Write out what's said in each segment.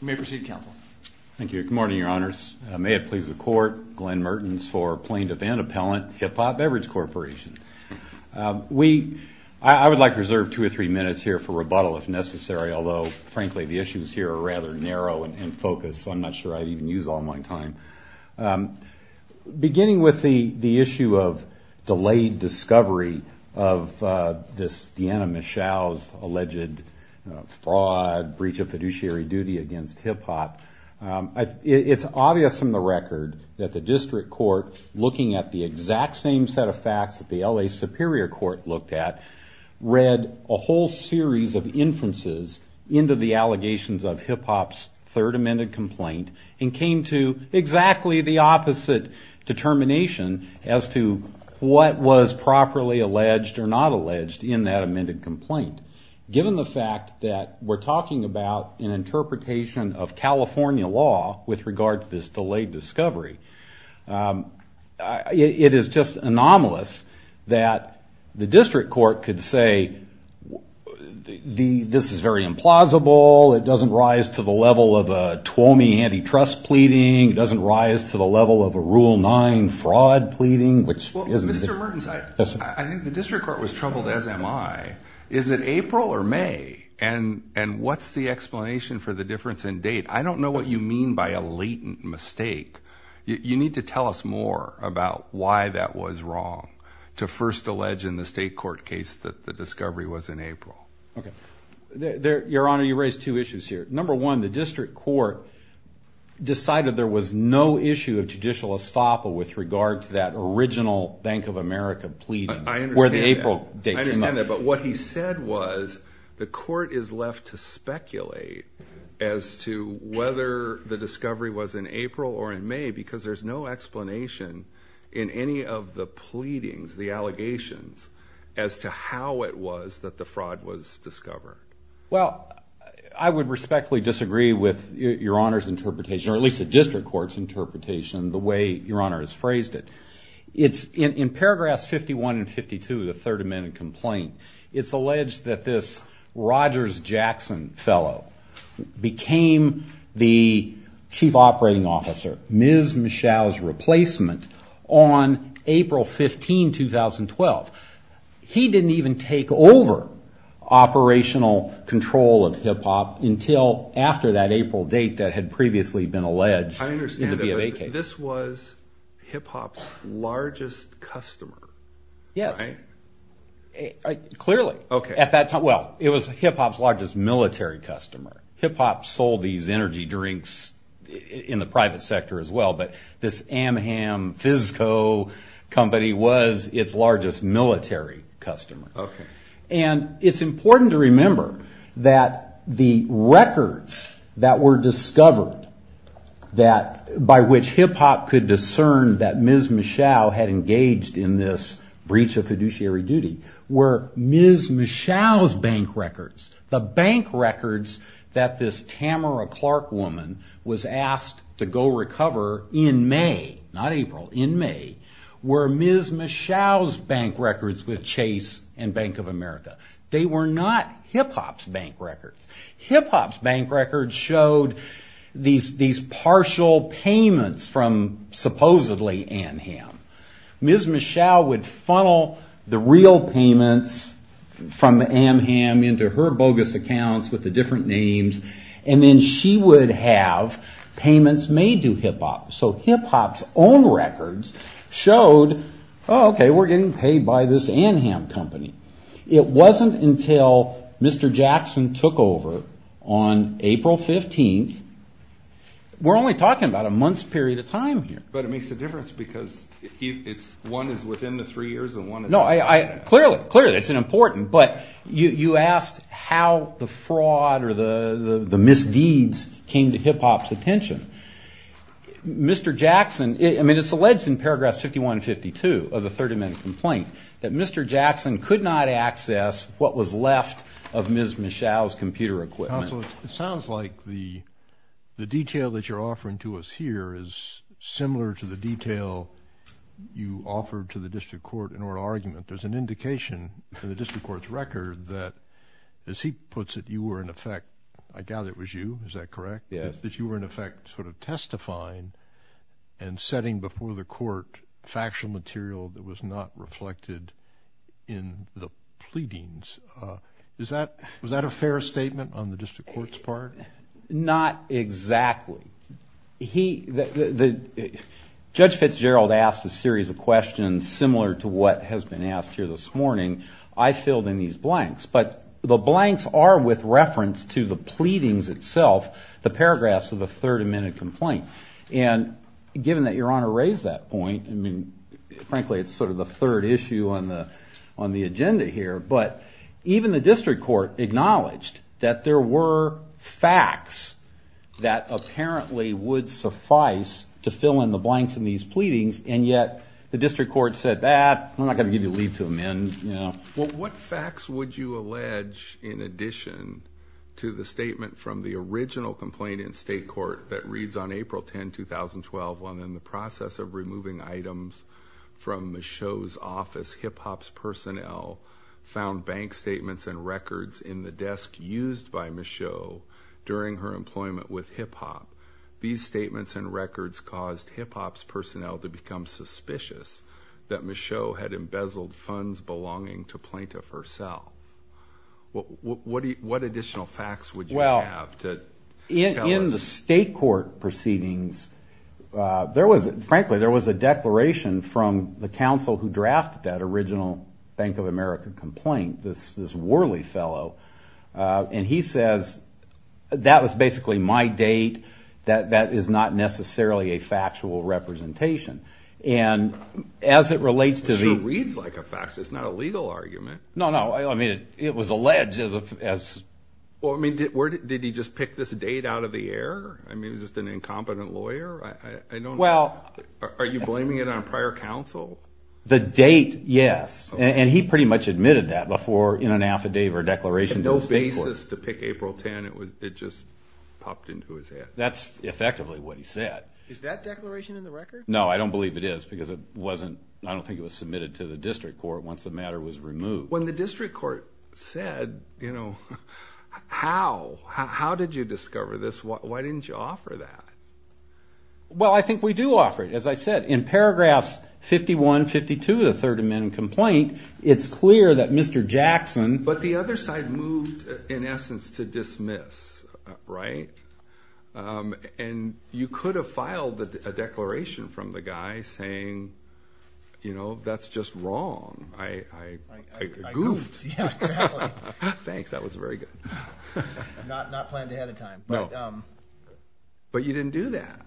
May it please the Court, Glenn Mertens for Plaintiff and Appellant, Hip Hop Beverage Corporation. I would like to reserve two or three minutes here for rebuttal if necessary, although frankly the issues here are rather narrow and focused, so I'm not sure I'd even use all my time. Beginning with the issue of delayed discovery of Deanna Michelle's alleged fraud, breach of fiduciary duty against Hip Hop, it's obvious from the record that the District Court, looking at the exact same set of facts that the L.A. Superior Court looked at, read a whole series of inferences into the allegations of Hip Hop's third amended complaint and came to exactly the opposite determination as to what was properly alleged or not alleged in that amended complaint. Given the fact that we're talking about an interpretation of California law with regard to this delayed discovery, it is just anomalous that the District Court could say, this is very implausible, it doesn't rise to the level of a Tuomi antitrust pleading, it doesn't rise to the level of a Rule 9 fraud pleading. Well, Mr. Mertens, I think the District Court was troubled as am I. Is it April or May, and what's the explanation for the difference in date? I don't know what you mean by a latent mistake. You need to tell us more about why that was wrong to first allege in the state court case that the discovery was in April. Okay. Your Honor, you raise two issues here. Number one, the District Court decided there was no issue of judicial estoppel with regard to that original Bank of America pleading where the April date came up. I understand that, but what he said was the court is left to speculate as to whether the discovery was in April or in May because there's no explanation in any of the Well, I would respectfully disagree with Your Honor's interpretation, or at least the District Court's interpretation, the way Your Honor has phrased it. In paragraphs 51 and 52 of the Third Amendment complaint, it's alleged that this Rogers Jackson fellow became the Chief Operating Officer, Ms. Michelle's replacement, on April 15, 2012. He didn't even take over operational control of HIPPOP until after that April date that had previously been alleged in the B of A case. I understand that, but this was HIPPOP's largest customer, right? Yes, clearly. Okay. At that time, well, it was HIPPOP's largest military customer. HIPPOP sold these energy drinks in the private sector as well, but this Amham Fizzco company was its largest military customer. Okay. And it's important to remember that the records that were discovered by which HIPPOP could discern that Ms. Michelle had engaged in this breach of fiduciary duty were Ms. Michelle's bank records. The bank records that this Tamara Clark woman was asked to go recover in May, not April, in May, were Ms. Michelle's bank records with Chase and Bank of America. They were not HIPPOP's bank records. HIPPOP's bank records showed these partial payments from supposedly Amham. Ms. Michelle would funnel the real payments from Amham into her bogus accounts with the different names, and then she would have payments made to HIPPOP. So HIPPOP's own records showed, oh, okay, we're getting paid by this Amham company. It wasn't until Mr. Jackson took over on April 15th. We're only talking about a month's period of time here. But it makes a difference because one is within the three years and one is not. No, clearly, clearly, it's important. But you asked how the fraud or the misdeeds came to HIPPOP's attention. Mr. Jackson, I mean, it's alleged in paragraphs 51 and 52 of the 30-minute complaint that Mr. Jackson could not access what was left of Ms. Michelle's computer equipment. Counsel, it sounds like the detail that you're offering to us here is similar to the detail you offered to the district court in oral argument. There's an indication in the district court's record that, as he puts it, you were in effect, I gather it was you, is that correct? Yes. That you were in effect sort of testifying and setting before the court factual material that was not reflected in the pleadings. Was that a fair statement on the district court's part? Not exactly. Judge Fitzgerald asked a series of questions similar to what has been asked here this morning. I filled in these blanks. But the blanks are with reference to the pleadings itself, the paragraphs of the 30-minute complaint. And given that Your Honor raised that point, I mean, frankly, it's sort of the third issue on the agenda here. But even the district court acknowledged that there were facts that apparently would suffice to fill in the blanks in these pleadings, and yet the district court said, I'm not going to give you a leave to amend. What facts would you allege in addition to the statement from the original complaint in state court that reads on April 10, 2012, when in the process of removing items from Michaud's office, HIPHOP's personnel found bank statements and records in the desk used by Michaud during her employment with HIPHOP. These statements and records caused HIPHOP's personnel to become suspicious that Michaud had embezzled funds belonging to plaintiff herself. What additional facts would you have to tell us? In the state court proceedings, frankly, there was a declaration from the counsel who drafted that original Bank of America complaint, this Worley fellow. And he says, that was basically my date. That is not necessarily a factual representation. And as it relates to the... It sure reads like a fact. It's not a legal argument. No, no. I mean, it was alleged as... Well, I mean, did he just pick this date out of the air? I mean, is this an incompetent lawyer? I don't... Well... Are you blaming it on prior counsel? The date, yes. And he pretty much admitted that before in an affidavit or declaration to the state court. No basis to pick April 10. It just popped into his head. That's effectively what he said. Is that declaration in the record? No, I don't believe it is because it wasn't... I don't think it was submitted to the district court once the matter was removed. When the district court said, you know, how? How did you discover this? Why didn't you offer that? Well, I think we do offer it. As I said, in paragraphs 51, 52 of the Third Amendment complaint, it's clear that Mr. Jackson... But the other side moved, in essence, to dismiss, right? And you could have filed a declaration from the guy saying, you know, that's just wrong. I goofed. Yeah, exactly. Thanks. That was very good. Not planned ahead of time. No. But you didn't do that.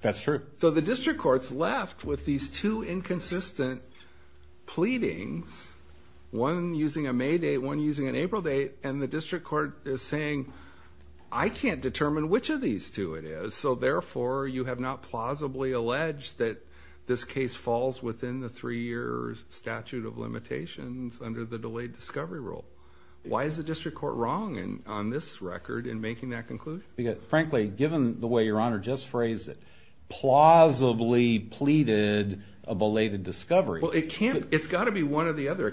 That's true. So the district court's left with these two inconsistent pleadings, one using a May date, one using an April date, and the district court is saying, I can't determine which of these two it is, so therefore you have not plausibly alleged that this case falls within the three-year statute of limitations under the delayed discovery rule. Why is the district court wrong on this record in making that conclusion? Frankly, given the way Your Honor just phrased it, plausibly pleaded a belated discovery... Well, it can't... It's got to be one or the other.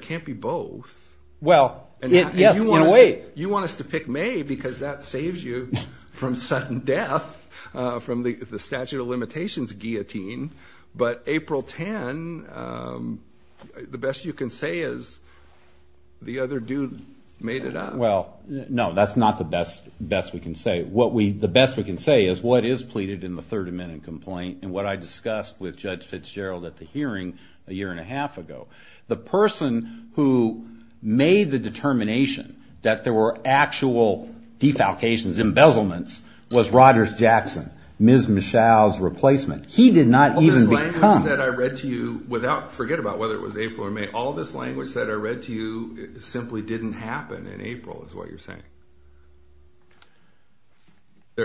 Well... Yes, in a way. You want us to pick May because that saves you from sudden death from the statute of limitations guillotine, but April 10, the best you can say is the other dude made it up. Well, no, that's not the best we can say. The best we can say is what is pleaded in the Third Amendment complaint and what I discussed with Judge Fitzgerald at the hearing a year and a half ago. The person who made the determination that there were actual defalcations, embezzlements, was Rogers Jackson, Ms. Mischel's replacement. He did not even become... All this language that I read to you without... Forget about whether it was April or May. All this language that I read to you simply didn't happen in April is what you're saying.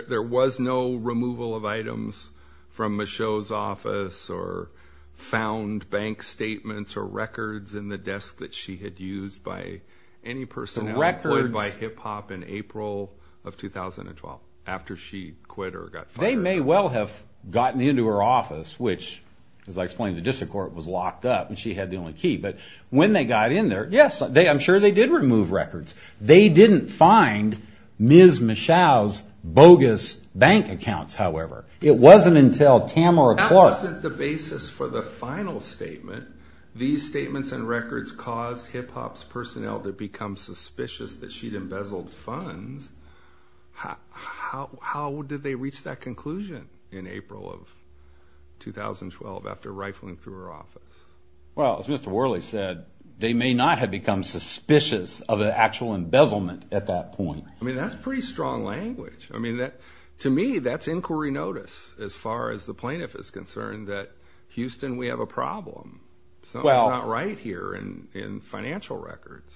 There was no removal of items from Mischel's office or found bank statements or records in the desk that she had used by any person... The records... ...employed by Hip Hop in April of 2012 after she quit or got fired. They may well have gotten into her office, which, as I explained, the district court was locked up and she had the only key. But when they got in there, yes, I'm sure they did remove records. They didn't find Ms. Mischel's bogus bank accounts, however. It wasn't until Tamara Clark... That wasn't the basis for the final statement. These statements and records caused Hip Hop's personnel to become suspicious that she'd embezzled funds. How did they reach that conclusion in April of 2012 after rifling through her office? Well, as Mr. Worley said, they may not have become suspicious of an actual embezzlement at that point. I mean, that's pretty strong language. I mean, to me, that's inquiry notice as far as the plaintiff is concerned that Houston, we have a problem. Something's not right here in financial records.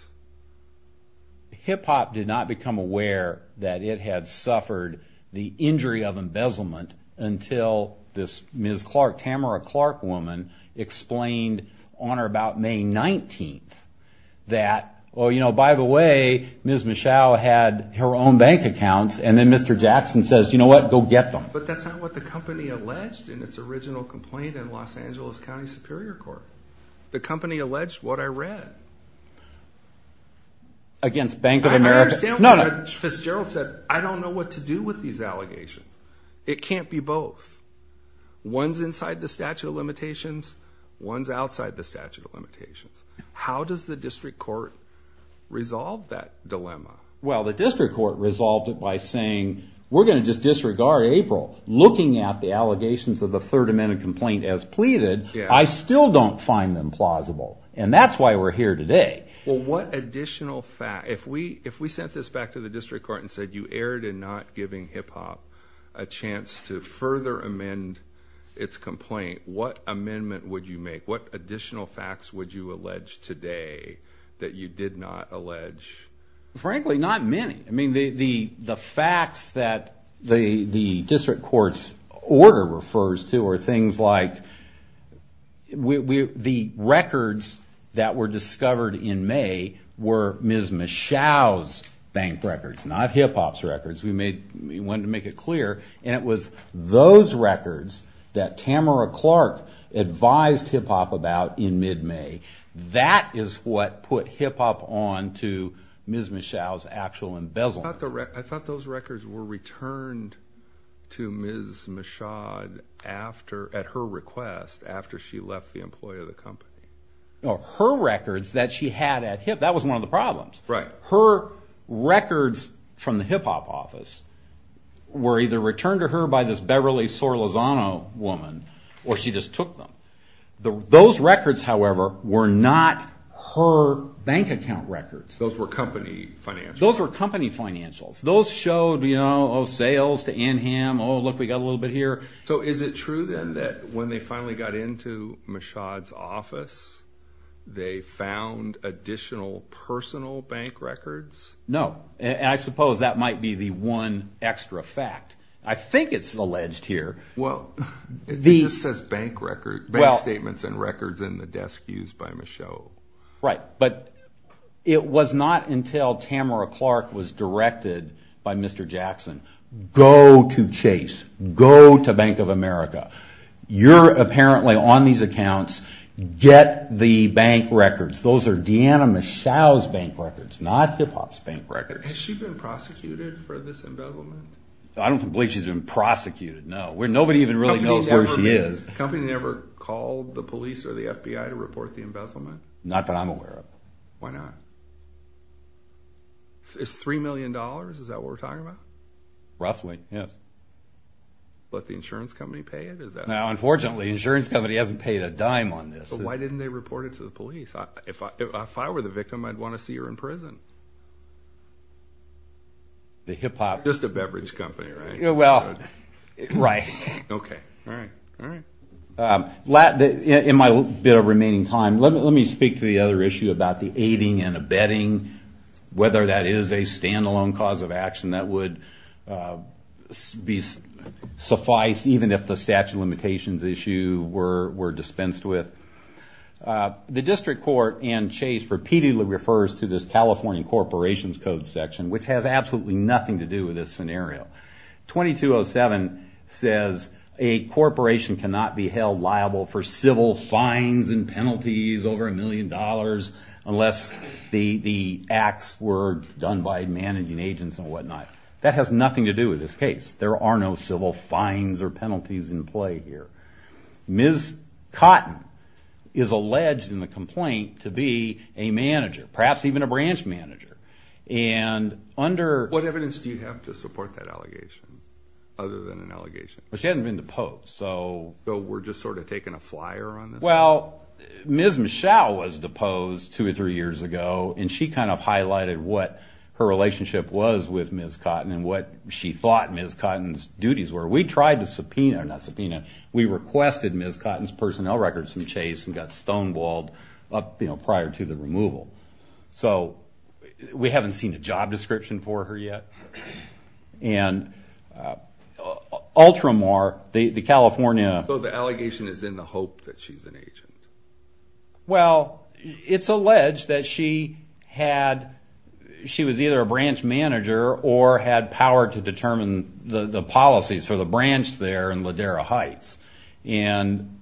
Hip Hop did not become aware that it had suffered the injury of embezzlement until this Ms. Clark, Tamara Clark woman, explained on or about May 19th that, oh, you know, by the way, Ms. Mischel had her own bank accounts and then Mr. Jackson says, you know what, go get them. But that's not what the company alleged in its original complaint in Los Angeles County Superior Court. The company alleged what I read. Against Bank of America? I understand what Judge Fitzgerald said. I don't know what to do with these allegations. It can't be both. One's inside the statute of limitations. One's outside the statute of limitations. How does the district court resolve that dilemma? Well, the district court resolved it by saying, we're going to just disregard April. Looking at the allegations of the Third Amendment complaint as pleaded, I still don't find them plausible. And that's why we're here today. Well, what additional fact, if we sent this back to the district court and said you erred in not giving Hip Hop a chance to further amend its complaint, what amendment would you make? What additional facts would you allege today that you did not allege? Frankly, not many. I mean, the facts that the district court's order refers to are things like the records that were discovered in May were Ms. Michaud's bank records, not Hip Hop's records. We wanted to make it clear. And it was those records that Tamara Clark advised Hip Hop about in mid-May. That is what put Hip Hop on to Ms. Michaud's actual embezzlement. I thought those records were returned to Ms. Michaud at her request after she left the employee of the company. Her records that she had at Hip Hop, that was one of the problems. Her records from the Hip Hop office were either returned to her by this Beverly Sorlezano woman, or she just took them. Those records, however, were not her bank account records. Those were company financials. Those were company financials. Those showed sales to Anham, oh, look, we got a little bit here. So is it true, then, that when they finally got into Michaud's office, they found additional personal bank records? No, and I suppose that might be the one extra fact. I think it's alleged here. Well, it just says bank statements and records in the desk used by Michaud. Right, but it was not until Tamara Clark was directed by Mr. Jackson, go to Chase, go to Bank of America. You're apparently on these accounts. Get the bank records. Those are Deanna Michaud's bank records, not Hip Hop's bank records. Has she been prosecuted for this embezzlement? I don't believe she's been prosecuted, no. Nobody even really knows where she is. The company never called the police or the FBI to report the embezzlement? Not that I'm aware of. Why not? It's $3 million? Is that what we're talking about? Roughly, yes. Let the insurance company pay it? Now, unfortunately, the insurance company hasn't paid a dime on this. But why didn't they report it to the police? If I were the victim, I'd want to see her in prison. Just a beverage company, right? Well, right. Okay, all right, all right. In my bit of remaining time, let me speak to the other issue about the aiding and abetting. Whether that is a standalone cause of action that would suffice, even if the statute of limitations issue were dispensed with. The district court and Chase repeatedly refers to this California Corporations Code section, which has absolutely nothing to do with this scenario. 2207 says a corporation cannot be held liable for civil fines and penalties over $1 million unless the acts were done by managing agents and whatnot. That has nothing to do with this case. There are no civil fines or penalties in play here. Ms. Cotton is alleged in the complaint to be a manager, perhaps even a branch manager. What evidence do you have to support that allegation, other than an allegation? She hasn't been deposed. We're just sort of taking a flyer on this? Well, Ms. Michelle was deposed two or three years ago, and she kind of highlighted what her relationship was with Ms. Cotton and what she thought Ms. Cotton's duties were. We tried to subpoena, or not subpoena, we requested Ms. Cotton's personnel records from Chase and got stonewalled prior to the removal. So we haven't seen a job description for her yet. So the allegation is in the hope that she's an agent? Well, it's alleged that she was either a branch manager or had power to determine the policies for the branch there in Ladera Heights. And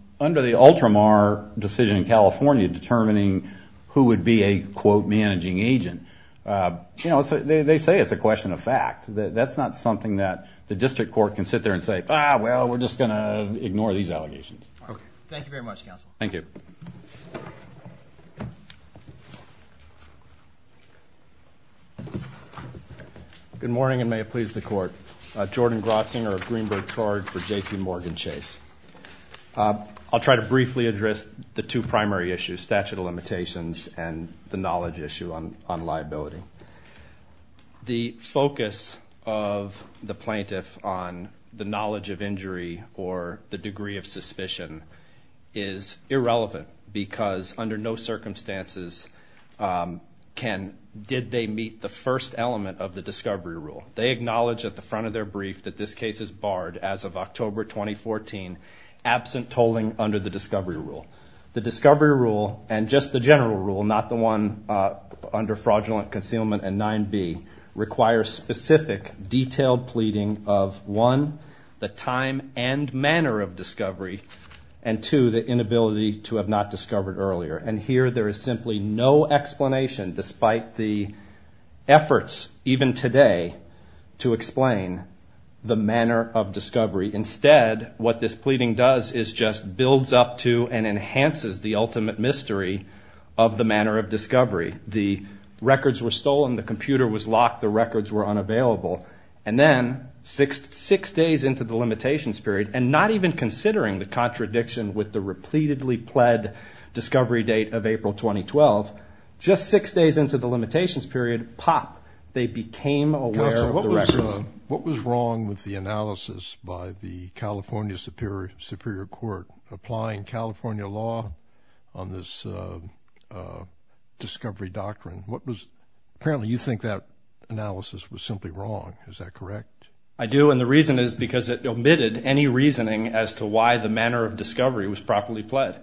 determining who would be a, quote, managing agent. You know, they say it's a question of fact. That's not something that the district court can sit there and say, ah, well, we're just going to ignore these allegations. Okay. Thank you very much, counsel. Thank you. Good morning, and may it please the court. Jordan Grotzinger of Greenberg Charred for JPMorgan Chase. I'll try to briefly address the two primary issues, statute of limitations and the knowledge issue on liability. The focus of the plaintiff on the knowledge of injury or the degree of suspicion is irrelevant because under no circumstances can, did they meet the first element of the discovery rule. They acknowledge at the front of their brief that this case is barred as of October 2014, absent tolling under the discovery rule. The discovery rule, and just the general rule, not the one under fraudulent concealment and 9B, requires specific detailed pleading of, one, the time and manner of discovery, and two, the inability to have not discovered earlier. And here there is simply no explanation, despite the efforts even today to explain the manner of discovery. Instead, what this pleading does is just builds up to and enhances the ultimate mystery of the manner of discovery. The records were stolen. The computer was locked. The records were unavailable. And then six days into the limitations period, and not even considering the contradiction with the repeatedly pled discovery date of April 2012, just six days into the limitations period, pop, they became aware of the records. What was wrong with the analysis by the California Superior Court applying California law on this discovery doctrine? What was, apparently you think that analysis was simply wrong. Is that correct? I do, and the reason is because it omitted any reasoning as to why the manner of discovery was properly pled.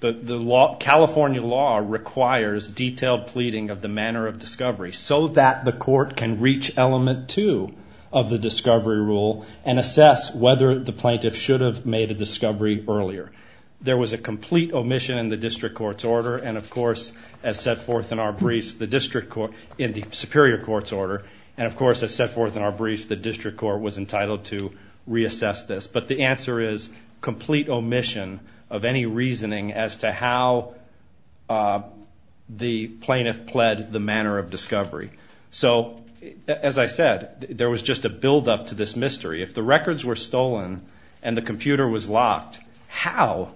California law requires detailed pleading of the manner of discovery so that the court can reach element two of the discovery rule and assess whether the plaintiff should have made a discovery earlier. There was a complete omission in the district court's order, and, of course, as set forth in our briefs, the district court, in the Superior Court's order, and, of course, as set forth in our briefs, the district court was entitled to reassess this. But the answer is complete omission of any reasoning as to how the plaintiff pled the manner of discovery. So, as I said, there was just a buildup to this mystery. If the records were stolen and the computer was locked, how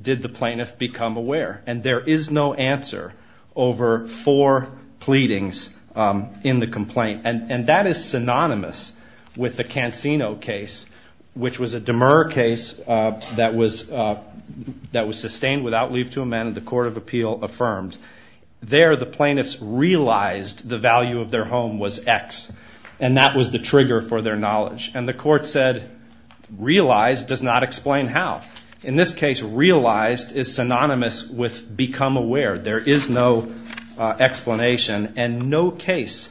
did the plaintiff become aware? And there is no answer over four pleadings in the complaint. And that is synonymous with the Cansino case, which was a demur case that was sustained without leave to amend and the court of appeal affirmed. There, the plaintiffs realized the value of their home was X, and that was the trigger for their knowledge. And the court said, realize does not explain how. In this case, realized is synonymous with become aware. There is no explanation, and no case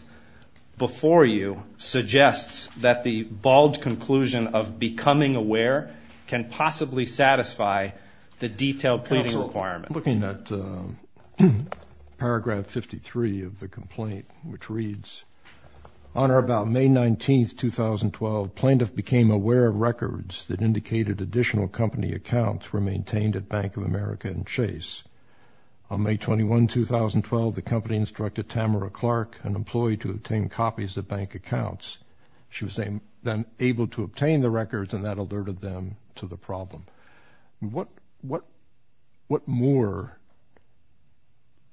before you suggests that the bald conclusion of becoming aware can possibly satisfy the detailed pleading requirement. Counsel, looking at paragraph 53 of the complaint, which reads, on or about May 19, 2012, plaintiff became aware of records that indicated additional company accounts were maintained at Bank of America and Chase. On May 21, 2012, the company instructed Tamara Clark, an employee to obtain copies of bank accounts. She was then able to obtain the records, and that alerted them to the problem. What more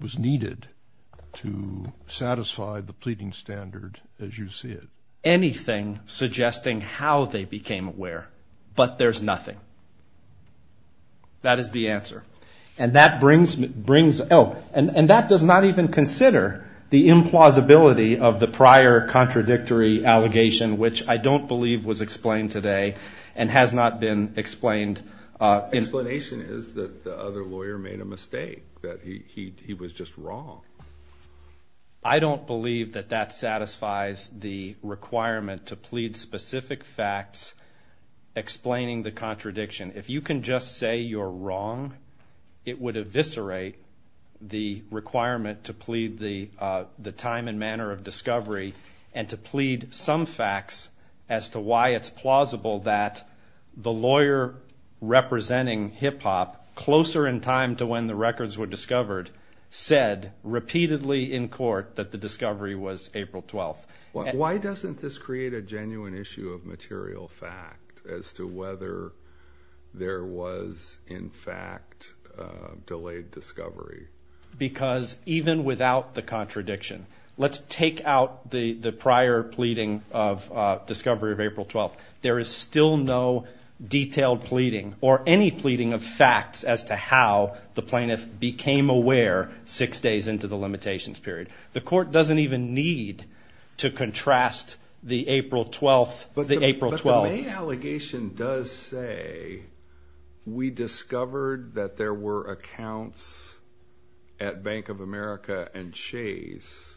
was needed to satisfy the pleading standard as you see it? Anything suggesting how they became aware, but there's nothing. That is the answer. And that does not even consider the implausibility of the prior contradictory allegation, which I don't believe was explained today and has not been explained. The explanation is that the other lawyer made a mistake, that he was just wrong. I don't believe that that satisfies the requirement to plead specific facts explaining the contradiction. If you can just say you're wrong, it would eviscerate the requirement to plead the time and manner of discovery and to plead some facts as to why it's plausible that the lawyer representing Hip Hop, closer in time to when the records were discovered, said repeatedly in court that the discovery was April 12th. Why doesn't this create a genuine issue of material fact as to whether there was, in fact, delayed discovery? Because even without the contradiction, let's take out the prior pleading of discovery of April 12th. There is still no detailed pleading or any pleading of facts as to how the plaintiff became aware six days into the limitations period. The court doesn't even need to contrast the April 12th with the April 12th. But the May allegation does say, we discovered that there were accounts at Bank of America and Chase,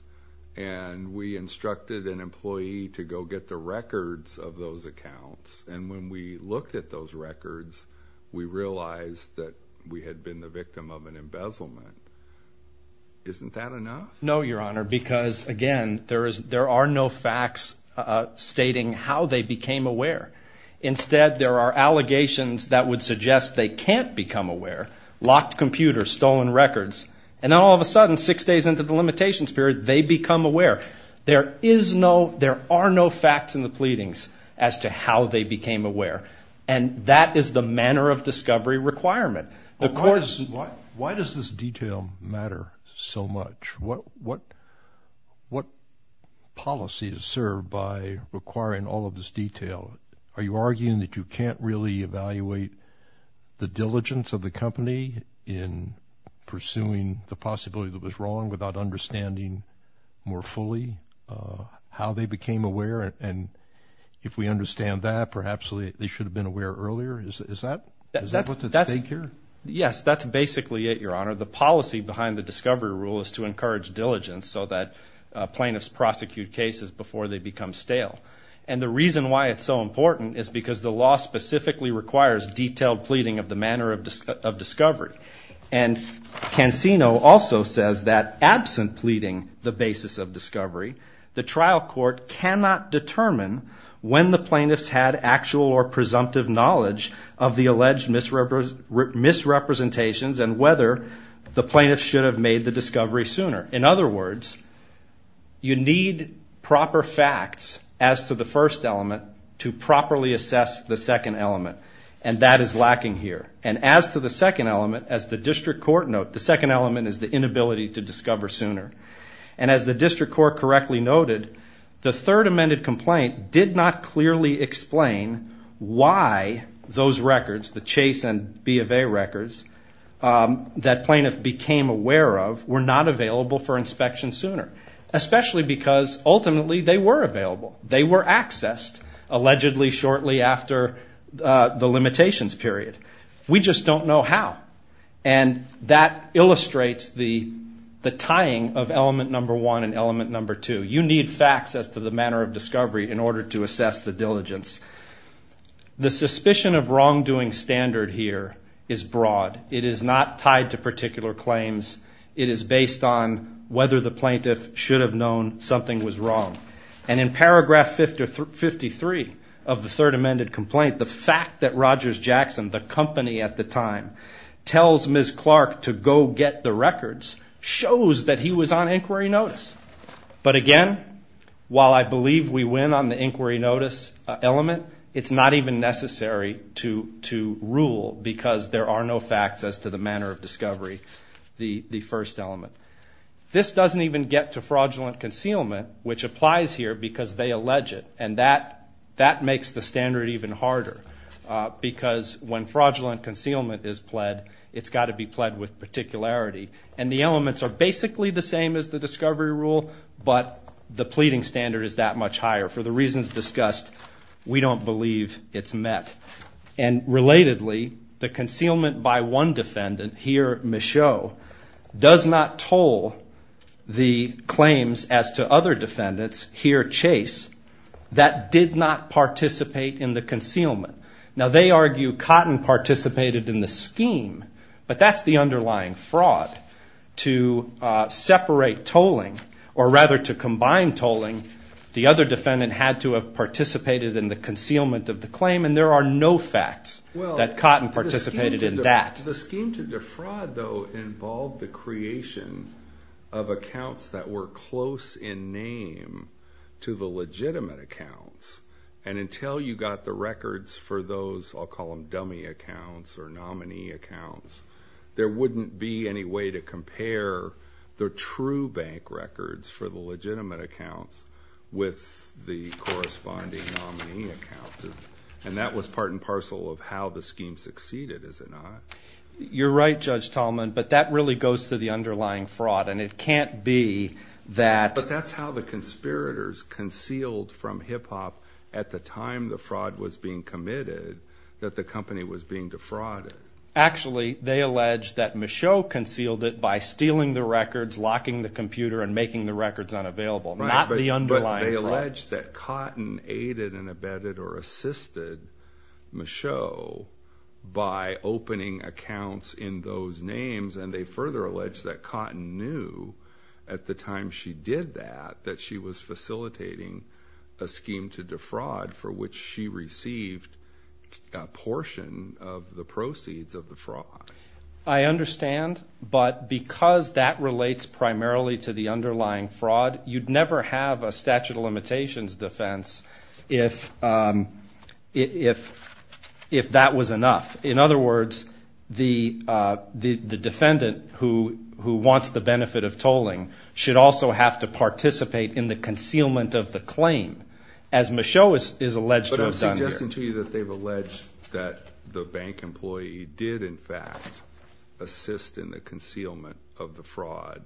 and we instructed an employee to go get the records of those accounts. And when we looked at those records, we realized that we had been the victim of an embezzlement. Isn't that enough? No, Your Honor, because, again, there are no facts stating how they became aware. Instead, there are allegations that would suggest they can't become aware. Locked computers, stolen records. And all of a sudden, six days into the limitations period, they become aware. There are no facts in the pleadings as to how they became aware, and that is the manner of discovery requirement. Why does this detail matter so much? What policy is served by requiring all of this detail? Are you arguing that you can't really evaluate the diligence of the company in pursuing the possibility that was wrong without understanding more fully how they became aware? And if we understand that, perhaps they should have been aware earlier. Is that what's at stake here? Yes, that's basically it, Your Honor. The policy behind the discovery rule is to encourage diligence so that plaintiffs prosecute cases before they become stale. And the reason why it's so important is because the law specifically requires detailed pleading of the manner of discovery. And Cansino also says that absent pleading the basis of discovery, the trial court cannot determine when the plaintiffs had actual or presumptive knowledge of the alleged misrepresentations and whether the plaintiffs should have made the discovery sooner. In other words, you need proper facts as to the first element to properly assess the second element, and that is lacking here. And as to the second element, as the district court noted, the second element is the inability to discover sooner. And as the district court correctly noted, the third amended complaint did not clearly explain why those records, the Chase and B of A records, that plaintiffs became aware of were not available for inspection sooner, especially because ultimately they were available. They were accessed allegedly shortly after the limitations period. We just don't know how. And that illustrates the tying of element number one and element number two. You need facts as to the manner of discovery in order to assess the diligence. The suspicion of wrongdoing standard here is broad. It is not tied to particular claims. It is based on whether the plaintiff should have known something was wrong. And in paragraph 53 of the third amended complaint, the fact that Rogers Jackson, the company at the time, tells Ms. Clark to go get the records shows that he was on inquiry notice. But again, while I believe we win on the inquiry notice element, it's not even necessary to rule because there are no facts as to the manner of discovery, the first element. This doesn't even get to fraudulent concealment, which applies here because they allege it. And that makes the standard even harder because when fraudulent concealment is pled, it's got to be pled with particularity. And the elements are basically the same as the discovery rule, but the pleading standard is that much higher. For the reasons discussed, we don't believe it's met. And relatedly, the concealment by one defendant, here Michaud, does not toll the claims as to other defendants, here Chase, that did not participate in the concealment. Now they argue Cotton participated in the scheme, but that's the underlying fraud. To separate tolling, or rather to combine tolling, the other defendant had to have participated in the concealment of the claim, and there are no facts that Cotton participated in that. The scheme to defraud, though, involved the creation of accounts that were close in name to the legitimate accounts. And until you got the records for those, I'll call them dummy accounts or nominee accounts, there wouldn't be any way to compare the true bank records for the legitimate accounts with the corresponding nominee accounts. And that was part and parcel of how the scheme succeeded, is it not? You're right, Judge Tallman, but that really goes to the underlying fraud, and it can't be that... But that's how the conspirators concealed from HIPPOP at the time the fraud was being committed, that the company was being defrauded. Actually, they allege that Michaud concealed it by stealing the records, locking the computer, and making the records unavailable, not the underlying fraud. They allege that Cotton aided and abetted or assisted Michaud by opening accounts in those names, and they further allege that Cotton knew at the time she did that that she was facilitating a scheme to defraud for which she received a portion of the proceeds of the fraud. I understand, but because that relates primarily to the underlying fraud, you'd never have a statute of limitations defense if that was enough. In other words, the defendant who wants the benefit of tolling should also have to participate in the concealment of the claim, as Michaud is alleged to have done here. But I'm suggesting to you that they've alleged that the bank employee did in fact assist in the concealment of the fraud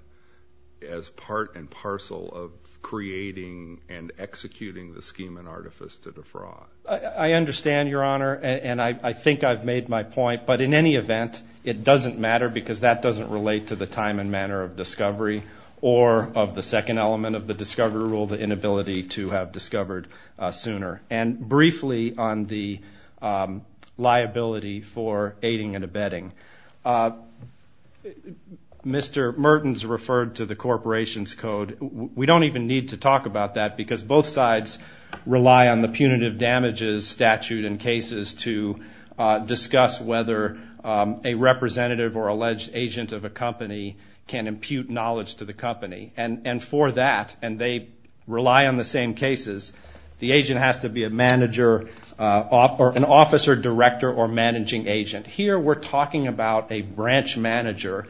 as part and parcel of creating and executing the scheme and artifice to defraud. I understand, Your Honor, and I think I've made my point. But in any event, it doesn't matter because that doesn't relate to the time and manner of discovery or of the second element of the discovery rule, the inability to have discovered sooner. Briefly on the liability for aiding and abetting, Mr. Mertens referred to the corporation's code. We don't even need to talk about that because both sides rely on the punitive damages statute in cases to discuss whether a representative or alleged agent of a company can impute knowledge to the company. And for that, and they rely on the same cases, the agent has to be an officer, director, or managing agent. Here we're talking about a branch manager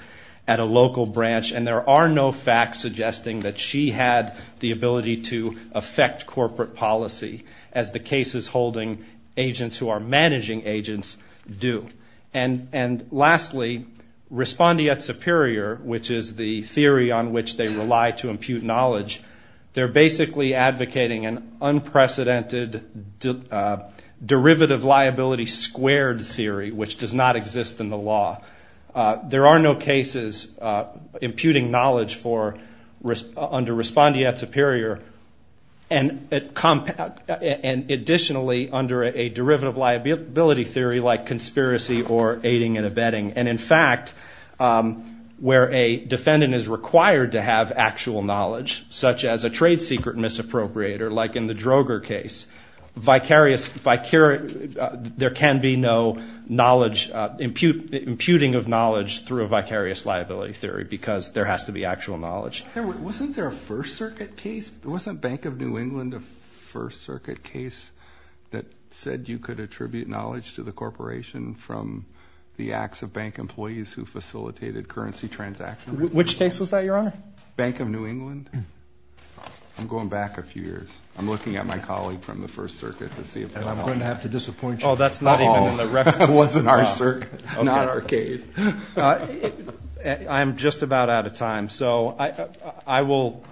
at a local branch, and there are no facts suggesting that she had the ability to affect corporate policy as the cases holding agents who are managing agents do. And lastly, respondeat superior, which is the theory on which they rely to impute knowledge, they're basically advocating an unprecedented derivative liability squared theory, which does not exist in the law. There are no cases imputing knowledge under respondeat superior and additionally under a derivative liability theory like conspiracy or aiding and abetting. And in fact, where a defendant is required to have actual knowledge, such as a trade secret misappropriator like in the Droger case, there can be no knowledge, imputing of knowledge through a vicarious liability theory because there has to be actual knowledge. Wasn't there a First Circuit case? Wasn't Bank of New England a First Circuit case that said you could attribute knowledge to the corporation from the acts of bank employees who facilitated currency transactions? Which case was that, Your Honor? Bank of New England? I'm going back a few years. I'm looking at my colleague from the First Circuit to see if that one. I'm going to have to disappoint you. Oh, that's not even in the record. It wasn't our case. I'm just about out of time. So I will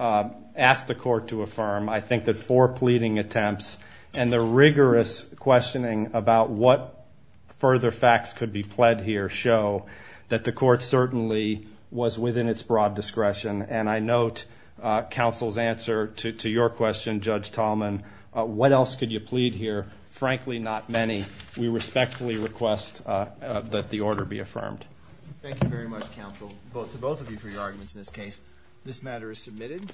ask the Court to affirm, I think, that four pleading attempts and the rigorous questioning about what further facts could be pled here show that the Court certainly was within its broad discretion. And I note counsel's answer to your question, Judge Tallman, what else could you plead here? Frankly, not many. We respectfully request that the order be affirmed. Thank you very much, counsel, to both of you for your arguments in this case. This matter is submitted.